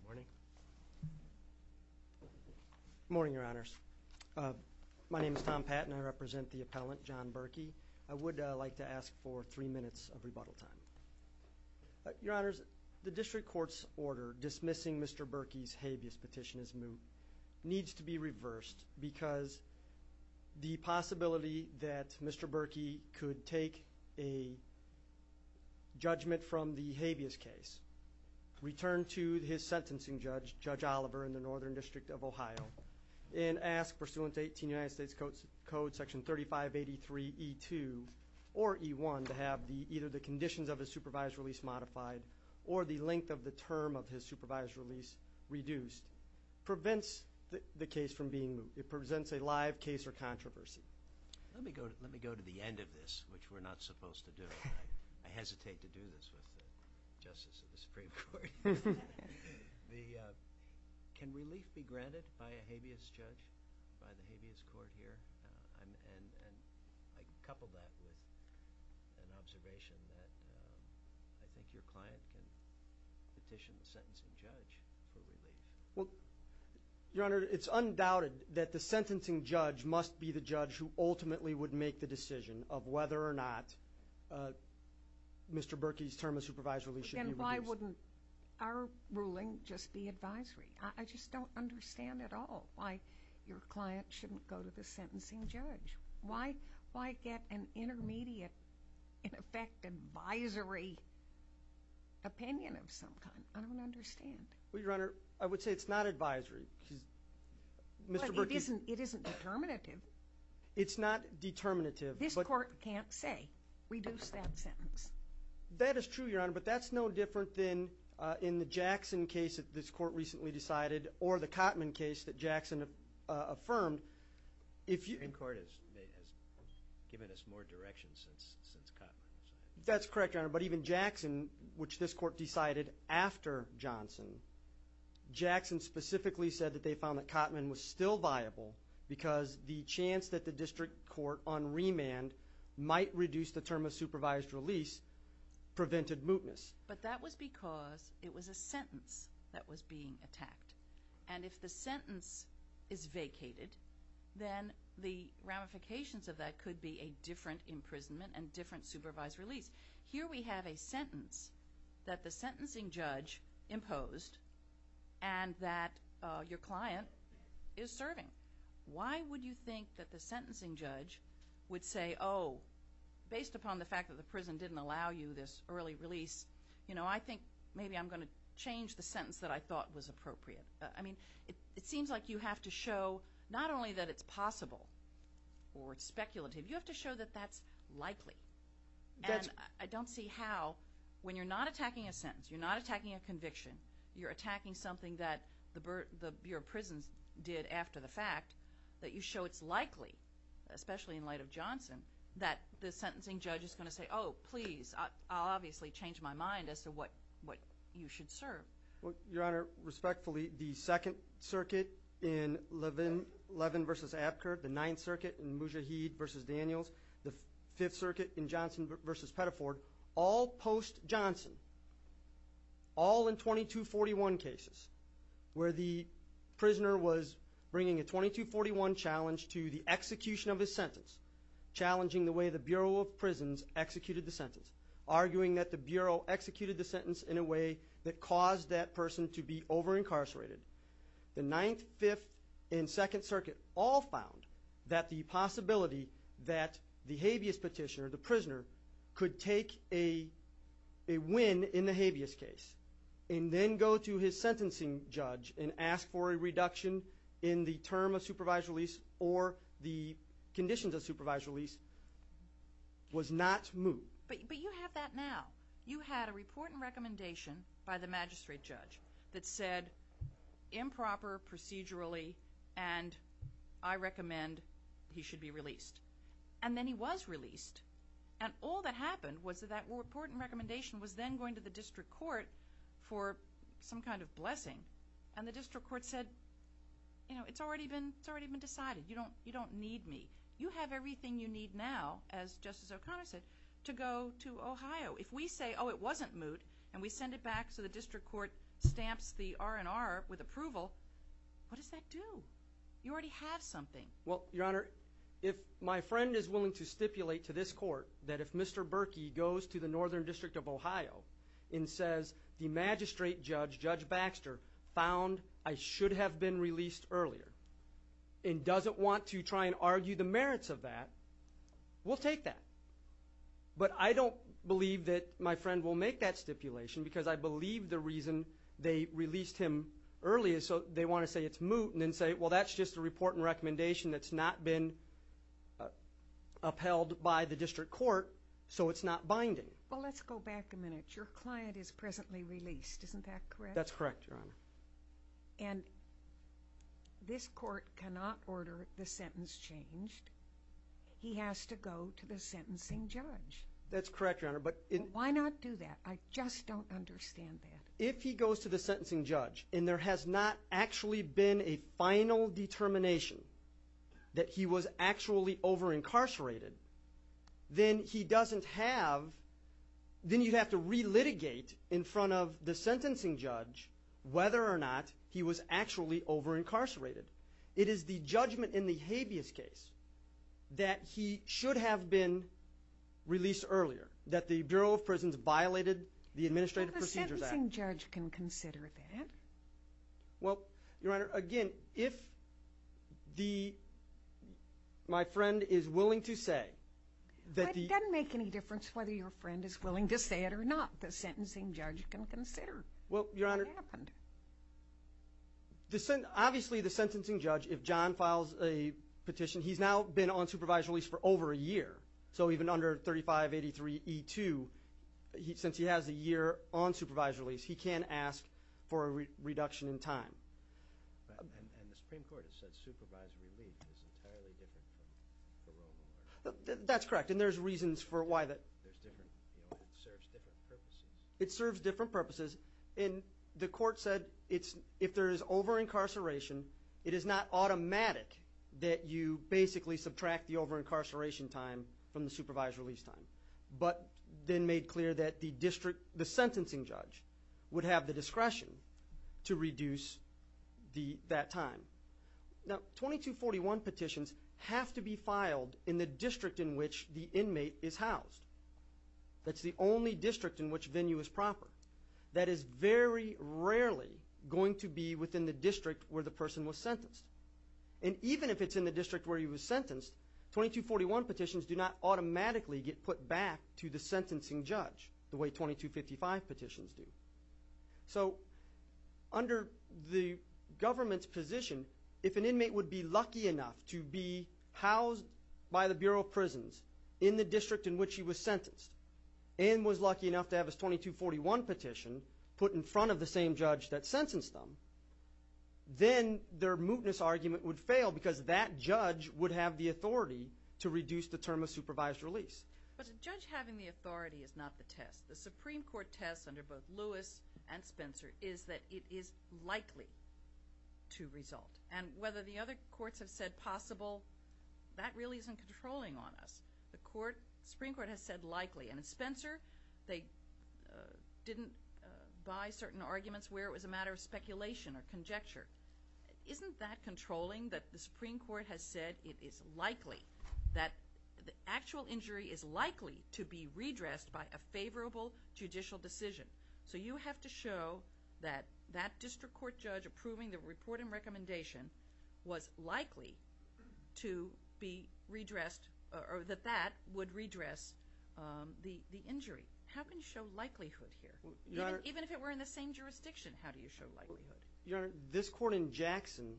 Good morning. Good morning, Your Honors. My name is Tom Patton. I represent the appellant, John Berkey. I would like to ask for three minutes of rebuttal time. Your Honors, the District Court's order dismissing Mr. Berkey's habeas petition as moot needs to be reversed because the possibility that Mr. Berkey could take a judgment from the habeas case, return to his sentencing judge, Judge Oliver in the Northern District of Ohio, and ask pursuant to 18 United States Code Section 3583E2 or E1 to have either the conditions of his supervised release modified or the length of the term of his supervised release reduced prevents the case from being moot. It presents a live case or controversy. Let me go to the end of this, which we're not supposed to do. I hesitate to do this with the Justice of the Supreme Court. Can relief be granted by a habeas judge, by the habeas court here? And I couple that with an observation that I think your client can petition the sentencing judge for relief. Well, Your Honor, it's undoubted that the sentencing judge must be the judge who ultimately would make the decision of whether or not Mr. Berkey's term of supervised release should be reduced. Then why wouldn't our ruling just be advisory? I just don't understand at all why your client shouldn't go to the sentencing judge. Why get an intermediate, in effect, advisory opinion of some kind? I don't understand. Well, Your Honor, I would say it's not advisory. It isn't determinative. It's not determinative. This court can't say, reduce that sentence. That is true, Your Honor, but that's no different than in the Jackson case that this court recently decided or the Cotman case that Jackson affirmed. The Supreme Court has given us more direction since Cotman decided. That's correct, Your Honor, but even Jackson, which this court decided after Johnson, Jackson specifically said that they found that Cotman was still viable because the chance that the district court on remand might reduce the term of supervised release prevented mootness. But that was because it was a sentence that was being attacked. And if the sentence is vacated, then the ramifications of that could be a different imprisonment and different supervised release. Here we have a sentence that the sentencing judge imposed and that your client is serving. Why would you think that the sentencing judge would say, oh, based upon the fact that the prison didn't allow you this early release, I think maybe I'm going to change the sentence that I thought was appropriate. I mean, it seems like you have to show not only that it's possible or it's speculative. You have to show that that's likely. And I don't see how, when you're not attacking a sentence, you're not attacking a conviction, you're attacking something that the Bureau of Prisons did after the fact, that you show it's likely, especially in light of Johnson, that the sentencing judge is going to say, oh, please, I'll obviously change my mind as to what you should serve. Well, Your Honor, respectfully, the Second Circuit in Levin v. Apker, the Ninth Circuit in Mujahid v. Daniels, the Fifth Circuit in Johnson v. Pettiford, all post-Johnson, all in 2241 cases where the prisoner was bringing a 2241 challenge to the execution of his sentence, challenging the way the Bureau of Prisons executed the sentence, arguing that the Bureau executed the sentence in a way that caused that person to be over-incarcerated. The Ninth, Fifth, and Second Circuit all found that the possibility that the habeas petitioner, the prisoner, could take a win in the habeas case and then go to his sentencing judge and ask for a reduction in the term of supervised release or the conditions of supervised release was not moved. But you have that now. You had a report and recommendation by the magistrate judge that said improper procedurally and I recommend he should be released. And then he was released. And all that happened was that that report and recommendation was then going to the district court for some kind of blessing. And the district court said, you know, it's already been decided. You don't need me. You have everything you need now, as Justice O'Connor said, to go to Ohio. If we say, oh, it wasn't moot, and we send it back so the district court stamps the R&R with approval, what does that do? You already have something. Well, Your Honor, if my friend is willing to stipulate to this court that if Mr. Berkey goes to the Northern District of Ohio and says the magistrate judge, Judge Baxter, found I should have been released earlier and doesn't want to try and argue the merits of that, we'll take that. But I don't believe that my friend will make that stipulation because I believe the reason they released him early is so they want to say it's moot and then say, well, that's just a report and recommendation that's not been upheld by the district court so it's not binding. Well, let's go back a minute. Your client is presently released. Isn't that correct? That's correct, Your Honor. And this court cannot order the sentence changed. He has to go to the sentencing judge. That's correct, Your Honor. Why not do that? I just don't understand that. If he goes to the sentencing judge and there has not actually been a final determination that he was actually over-incarcerated, then he doesn't have, then you'd have to relitigate in front of the sentencing judge whether or not he was actually over-incarcerated. It is the judgment in the habeas case that he should have been released earlier, that the Bureau of Prisons violated the Administrative Procedures Act. Well, the sentencing judge can consider that. Well, Your Honor, again, if my friend is willing to say that the – It doesn't make any difference whether your friend is willing to say it or not. The sentencing judge can consider what happened. Obviously, the sentencing judge, if John files a petition, he's now been on supervisory release for over a year. So even under 3583E2, since he has a year on supervisory release, he can ask for a reduction in time. And the Supreme Court has said supervisory relief is entirely different from parole. That's correct, and there's reasons for why that. There's different, you know, it serves different purposes. It serves different purposes, and the court said if there is over-incarceration, it is not automatic that you basically subtract the over-incarceration time from the supervisory release time, but then made clear that the district – the sentencing judge would have the discretion to reduce that time. Now, 2241 petitions have to be filed in the district in which the inmate is housed. That's the only district in which venue is proper. That is very rarely going to be within the district where the person was sentenced. And even if it's in the district where he was sentenced, 2241 petitions do not automatically get put back to the sentencing judge the way 2255 petitions do. So under the government's position, if an inmate would be lucky enough to be housed by the Bureau of Prisons in the district in which he was sentenced and was lucky enough to have his 2241 petition put in front of the same judge that sentenced them, then their mootness argument would fail because that judge would have the authority to reduce the term of supervised release. But a judge having the authority is not the test. The Supreme Court test under both Lewis and Spencer is that it is likely to result, and whether the other courts have said possible, that really isn't controlling on us. The Supreme Court has said likely. And in Spencer, they didn't buy certain arguments where it was a matter of speculation or conjecture. Isn't that controlling that the Supreme Court has said it is likely, that the actual injury is likely to be redressed by a favorable judicial decision? So you have to show that that district court judge approving the report and recommendation was likely to be redressed or that that would redress the injury. How can you show likelihood here? Even if it were in the same jurisdiction, how do you show likelihood? Your Honor, this court in Jackson,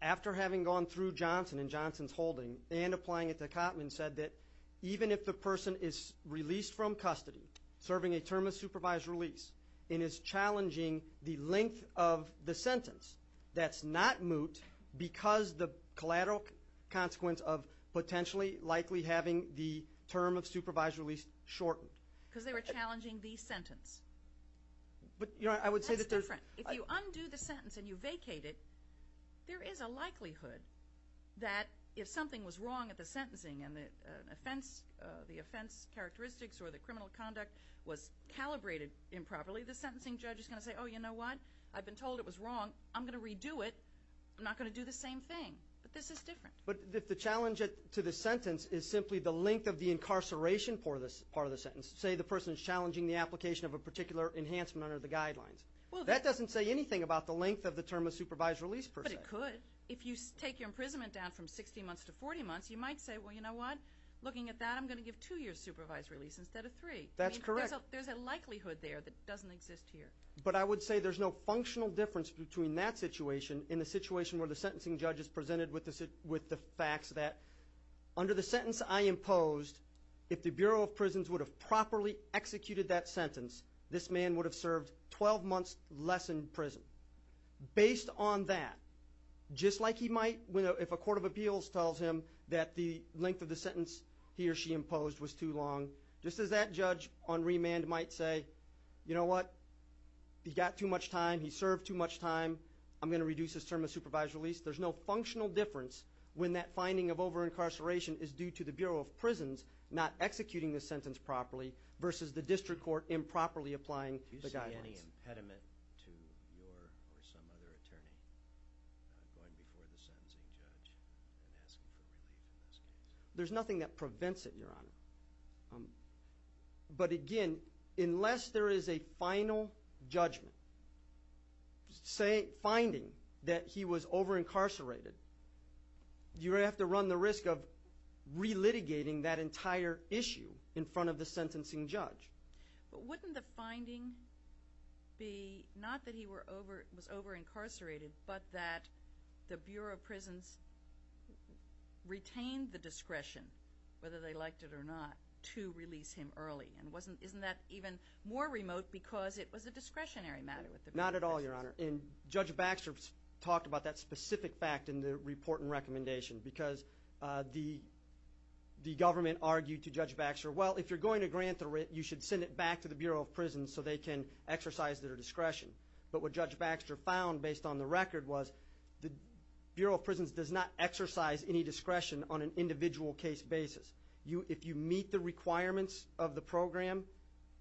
after having gone through Johnson and Johnson's holding and applying it to Cottman, said that even if the person is released from custody, serving a term of supervised release, and is challenging the length of the sentence, that's not moot because the collateral consequence of potentially, likely having the term of supervised release shortened. Because they were challenging the sentence. That's different. If you undo the sentence and you vacate it, there is a likelihood that if something was wrong at the sentencing and the offense characteristics or the criminal conduct was calibrated improperly, the sentencing judge is going to say, oh, you know what? I've been told it was wrong. I'm going to redo it. I'm not going to do the same thing. But this is different. But if the challenge to the sentence is simply the length of the incarceration part of the sentence, say the person is challenging the application of a particular enhancement under the guidelines, that doesn't say anything about the length of the term of supervised release per se. But it could. But if you take your imprisonment down from 60 months to 40 months, you might say, well, you know what? Looking at that, I'm going to give two years' supervised release instead of three. That's correct. There's a likelihood there that doesn't exist here. But I would say there's no functional difference between that situation and the situation where the sentencing judge is presented with the facts that under the sentence I imposed, if the Bureau of Prisons would have properly executed that sentence, this man would have served 12 months less in prison. Based on that, just like he might if a court of appeals tells him that the length of the sentence he or she imposed was too long, just as that judge on remand might say, you know what? He got too much time. He served too much time. I'm going to reduce his term of supervised release. There's no functional difference when that finding of over-incarceration is due to the Bureau of Prisons not executing the sentence properly versus the district court improperly applying the guidelines. Would there be any impediment to your or some other attorney going before the sentencing judge and asking for relief in this case? There's nothing that prevents it, Your Honor. But again, unless there is a final judgment, finding that he was over-incarcerated, you have to run the risk of re-litigating that entire issue in front of the sentencing judge. But wouldn't the finding be not that he was over-incarcerated but that the Bureau of Prisons retained the discretion, whether they liked it or not, to release him early? And isn't that even more remote because it was a discretionary matter with the Bureau of Prisons? Not at all, Your Honor. And Judge Baxter talked about that specific fact in the report and recommendation because the government argued to Judge Baxter, well, if you're going to grant the writ, you should send it back to the Bureau of Prisons so they can exercise their discretion. But what Judge Baxter found based on the record was the Bureau of Prisons does not exercise any discretion on an individual case basis. If you meet the requirements of the program,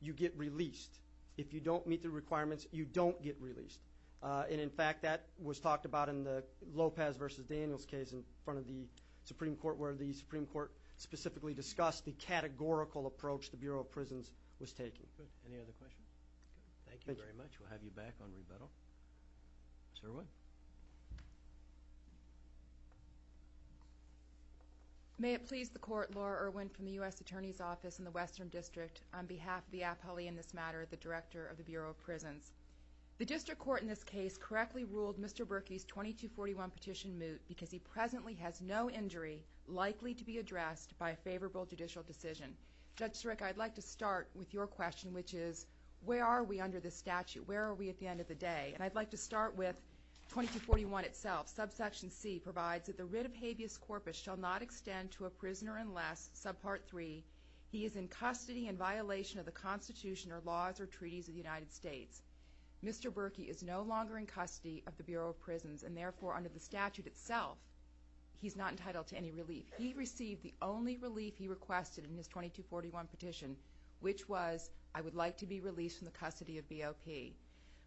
you get released. If you don't meet the requirements, you don't get released. And in fact, that was talked about in the Lopez versus Daniels case in front of the Supreme Court where the Supreme Court specifically discussed the categorical approach the Bureau of Prisons was taking. Any other questions? Thank you very much. We'll have you back on rebuttal. Ms. Irwin. May it please the Court, Laura Irwin from the U.S. Attorney's Office in the Western District, on behalf of the appellee in this matter, the Director of the Bureau of Prisons. The district court in this case correctly ruled Mr. Berkey's 2241 petition moot because he presently has no injury likely to be addressed by a favorable judicial decision. Judge Siric, I'd like to start with your question, which is where are we under this statute? Where are we at the end of the day? And I'd like to start with 2241 itself. Subsection C provides that the writ of habeas corpus shall not extend to a prisoner unless, subpart 3, he is in custody in violation of the Constitution or laws or treaties of the United States. Mr. Berkey is no longer in custody of the Bureau of Prisons and therefore under the statute itself he's not entitled to any relief. He received the only relief he requested in his 2241 petition, which was I would like to be released from the custody of BOP.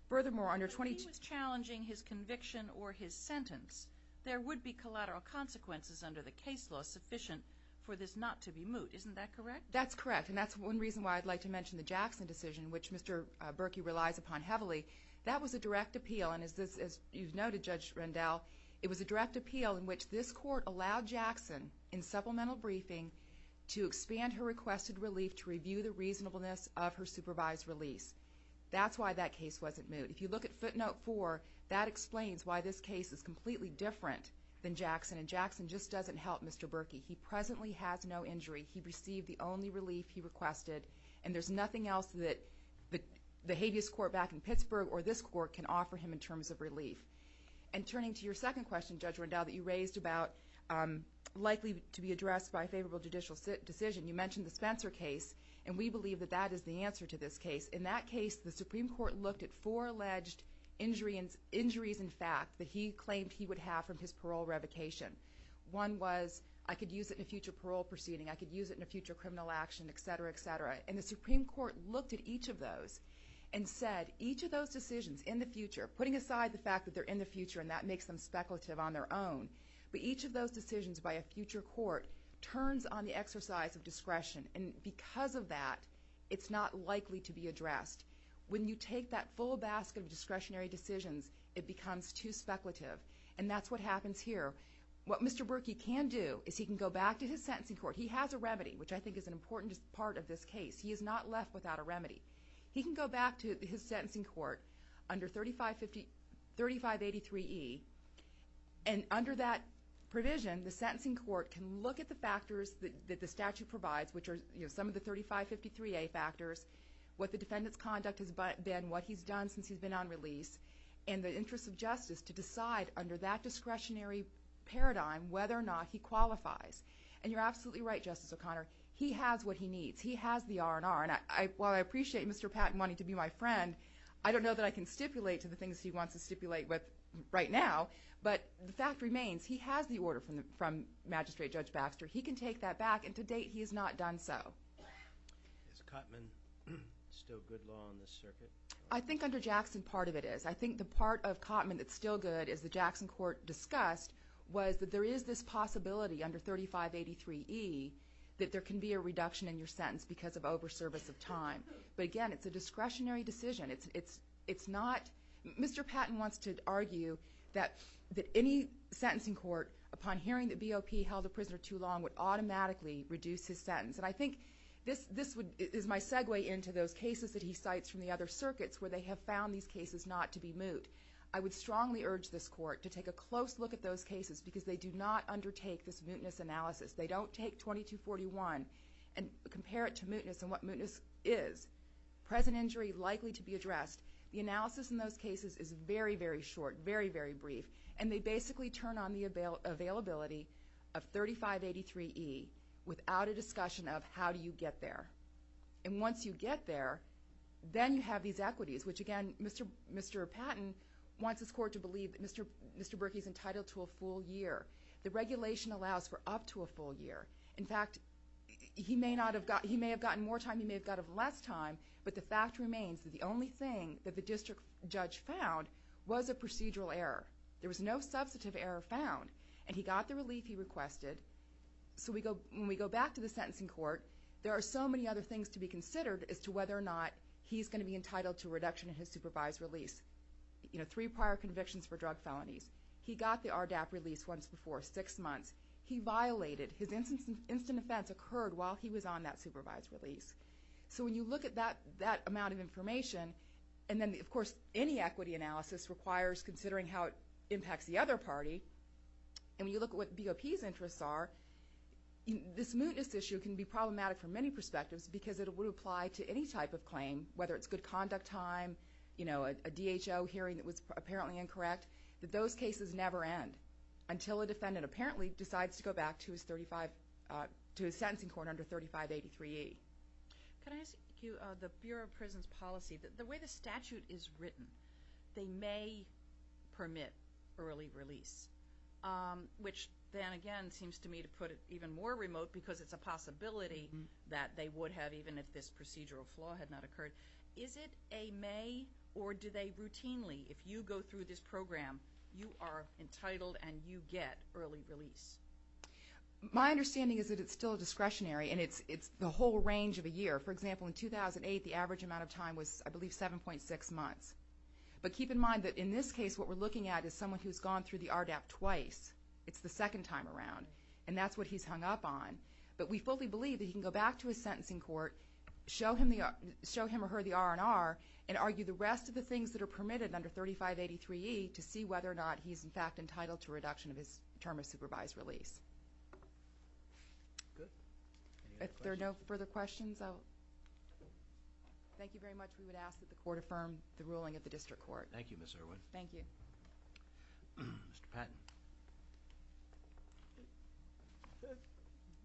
Furthermore, under 2241- If he was challenging his conviction or his sentence, there would be collateral consequences under the case law sufficient for this not to be moot. Isn't that correct? That's correct, and that's one reason why I'd like to mention the Jackson decision, which Mr. Berkey relies upon heavily. That was a direct appeal, and as you've noted, Judge Rendell, it was a direct appeal in which this court allowed Jackson in supplemental briefing to expand her requested relief to review the reasonableness of her supervised release. That's why that case wasn't moot. If you look at footnote 4, that explains why this case is completely different than Jackson, and Jackson just doesn't help Mr. Berkey. He presently has no injury. He received the only relief he requested, and there's nothing else that the habeas court back in Pittsburgh or this court can offer him in terms of relief. And turning to your second question, Judge Rendell, that you raised about likely to be addressed by a favorable judicial decision, you mentioned the Spencer case, and we believe that that is the answer to this case. In that case, the Supreme Court looked at four alleged injuries in fact that he claimed he would have from his parole revocation. One was I could use it in a future parole proceeding, I could use it in a future criminal action, et cetera, et cetera. And the Supreme Court looked at each of those and said each of those decisions in the future, putting aside the fact that they're in the future and that makes them speculative on their own, but each of those decisions by a future court turns on the exercise of discretion, and because of that, it's not likely to be addressed. When you take that full basket of discretionary decisions, it becomes too speculative, and that's what happens here. What Mr. Berkey can do is he can go back to his sentencing court. He has a remedy, which I think is an important part of this case. He is not left without a remedy. He can go back to his sentencing court under 3583E, and under that provision the sentencing court can look at the factors that the statute provides, which are some of the 3553A factors, what the defendant's conduct has been, what he's done since he's been on release, and the interest of justice to decide under that discretionary paradigm whether or not he qualifies. And you're absolutely right, Justice O'Connor. He has what he needs. He has the R&R, and while I appreciate Mr. Patton wanting to be my friend, I don't know that I can stipulate to the things he wants to stipulate with right now, but the fact remains he has the order from Magistrate Judge Baxter. He can take that back, and to date he has not done so. Is Cotman still good law on this circuit? I think under Jackson part of it is. I think the part of Cotman that's still good, as the Jackson court discussed, was that there is this possibility under 3583E that there can be a reduction in your sentence because of overservice of time. But again, it's a discretionary decision. It's not Mr. Patton wants to argue that any sentencing court, upon hearing that BOP held a prisoner too long, would automatically reduce his sentence. And I think this is my segue into those cases that he cites from the other circuits where they have found these cases not to be moot. I would strongly urge this court to take a close look at those cases because they do not undertake this mootness analysis. They don't take 2241 and compare it to mootness and what mootness is. Present injury likely to be addressed. The analysis in those cases is very, very short, very, very brief, and they basically turn on the availability of 3583E without a discussion of how do you get there. And once you get there, then you have these equities, which, again, Mr. Patton wants his court to believe that Mr. Berkey is entitled to a full year. The regulation allows for up to a full year. In fact, he may have gotten more time, he may have gotten less time, but the fact remains that the only thing that the district judge found was a procedural error. There was no substantive error found, and he got the relief he requested. So when we go back to the sentencing court, there are so many other things to be considered as to whether or not he's going to be entitled to a reduction in his supervised release. You know, three prior convictions for drug felonies. He got the RDAP release once before, six months. He violated. His instant offense occurred while he was on that supervised release. So when you look at that amount of information, and then, of course, any equity analysis requires considering how it impacts the other party, and when you look at what BOP's interests are, this mootness issue can be problematic from many perspectives because it would apply to any type of claim, whether it's good conduct time, a DHO hearing that was apparently incorrect, that those cases never end until a defendant apparently decides to go back to his sentencing court under 3583E. Can I ask you, the Bureau of Prisons policy, the way the statute is written, they may permit early release, which then, again, seems to me to put it even more remote because it's a possibility that they would have even if this procedural flaw had not occurred. Is it a may, or do they routinely, if you go through this program, you are entitled and you get early release? My understanding is that it's still discretionary, and it's the whole range of a year. For example, in 2008, the average amount of time was, I believe, 7.6 months. But keep in mind that in this case, what we're looking at is someone who's gone through the RDAP twice. It's the second time around, and that's what he's hung up on. But we fully believe that he can go back to his sentencing court, show him or her the R&R, and argue the rest of the things that are permitted under 3583E to see whether or not he's, in fact, entitled to a reduction of his term of supervised release. Good. Any other questions? If there are no further questions, I will. Thank you very much. We would ask that the Court affirm the ruling of the District Court. Thank you, Ms. Irwin. Thank you. Mr. Patton.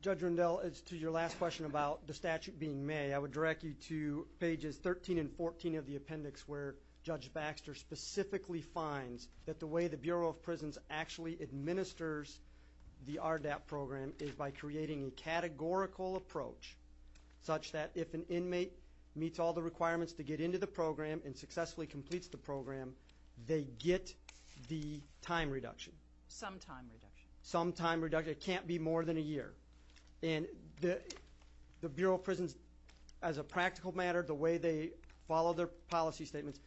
Judge Rundell, as to your last question about the statute being May, I would direct you to pages 13 and 14 of the appendix where Judge Baxter specifically finds that the way the Bureau of Prisons actually administers the RDAP program is by creating a categorical approach such that if an inmate meets all the requirements to get into the program and successfully completes the program, they get the time reduction. Some time reduction. Some time reduction. It can't be more than a year. And the Bureau of Prisons, as a practical matter, the way they follow their policy statements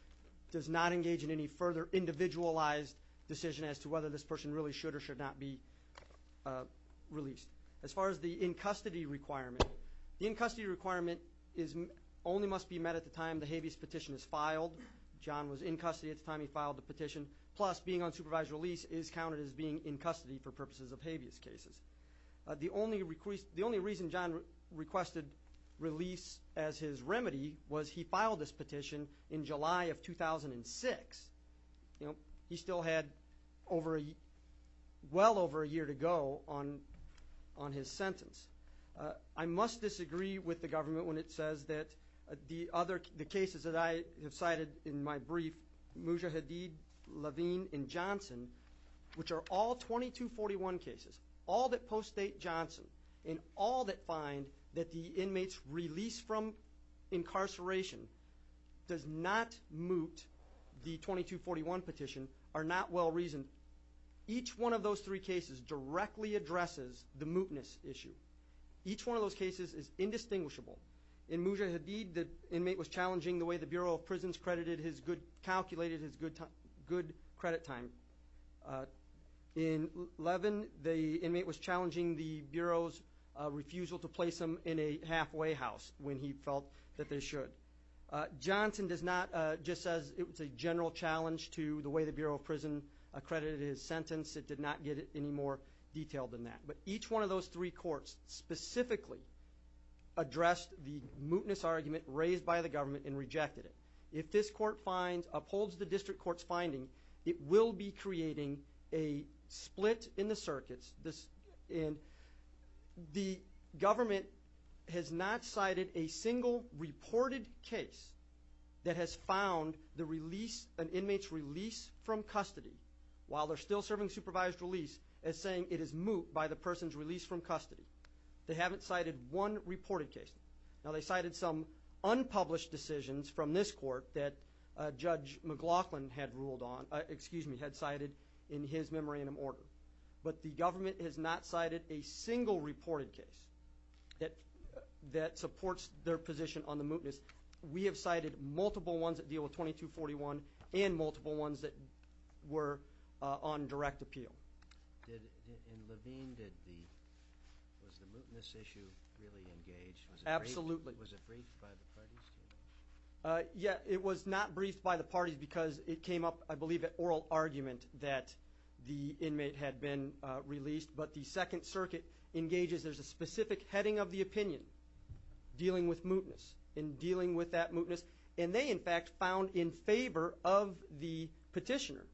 does not engage in any further individualized decision as to whether this person really should or should not be released. As far as the in-custody requirement, the in-custody requirement only must be met at the time the habeas petition is filed. John was in custody at the time he filed the petition. Plus, being on supervised release is counted as being in custody for purposes of habeas cases. The only reason John requested release as his remedy was he filed this petition in July of 2006. He still had well over a year to go on his sentence. I must disagree with the government when it says that the cases that I have cited in my brief, Mujahideen, Levine, and Johnson, which are all 2241 cases, all that post-date Johnson, and all that find that the inmates released from incarceration does not moot the 2241 petition, are not well-reasoned. Each one of those three cases directly addresses the mootness issue. Each one of those cases is indistinguishable. In Mujahideen, the inmate was challenging the way the Bureau of Prisons calculated his good credit time. In Levine, the inmate was challenging the Bureau's refusal to place him in a halfway house when he felt that they should. Johnson does not just say it was a general challenge to the way the Bureau of Prisons accredited his sentence. It did not get any more detailed than that. But each one of those three courts specifically addressed the mootness argument raised by the government and rejected it. If this court upholds the district court's finding, it will be creating a split in the circuits. And the government has not cited a single reported case that has found the release, an inmate's release from custody, while they're still serving supervised release, as saying it is moot by the person's release from custody. They haven't cited one reported case. Now, they cited some unpublished decisions from this court that Judge McLaughlin had ruled on, excuse me, had cited in his memorandum order. But the government has not cited a single reported case that supports their position on the mootness. We have cited multiple ones that deal with 2241 and multiple ones that were on direct appeal. In Levine, was the mootness issue really engaged? Absolutely. Was it briefed by the parties? Yeah, it was not briefed by the parties because it came up, I believe, at oral argument that the inmate had been released. But the Second Circuit engages there's a specific heading of the opinion dealing with mootness and dealing with that mootness. And they, in fact, found in favor of the petitioner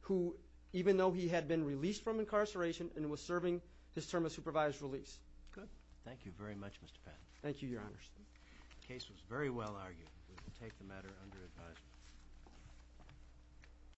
who, even though he had been released from incarceration and was serving his term of supervised release. Good. Thank you very much, Mr. Patton. Thank you, Your Honors. The case was very well argued. We will take the matter under advisement.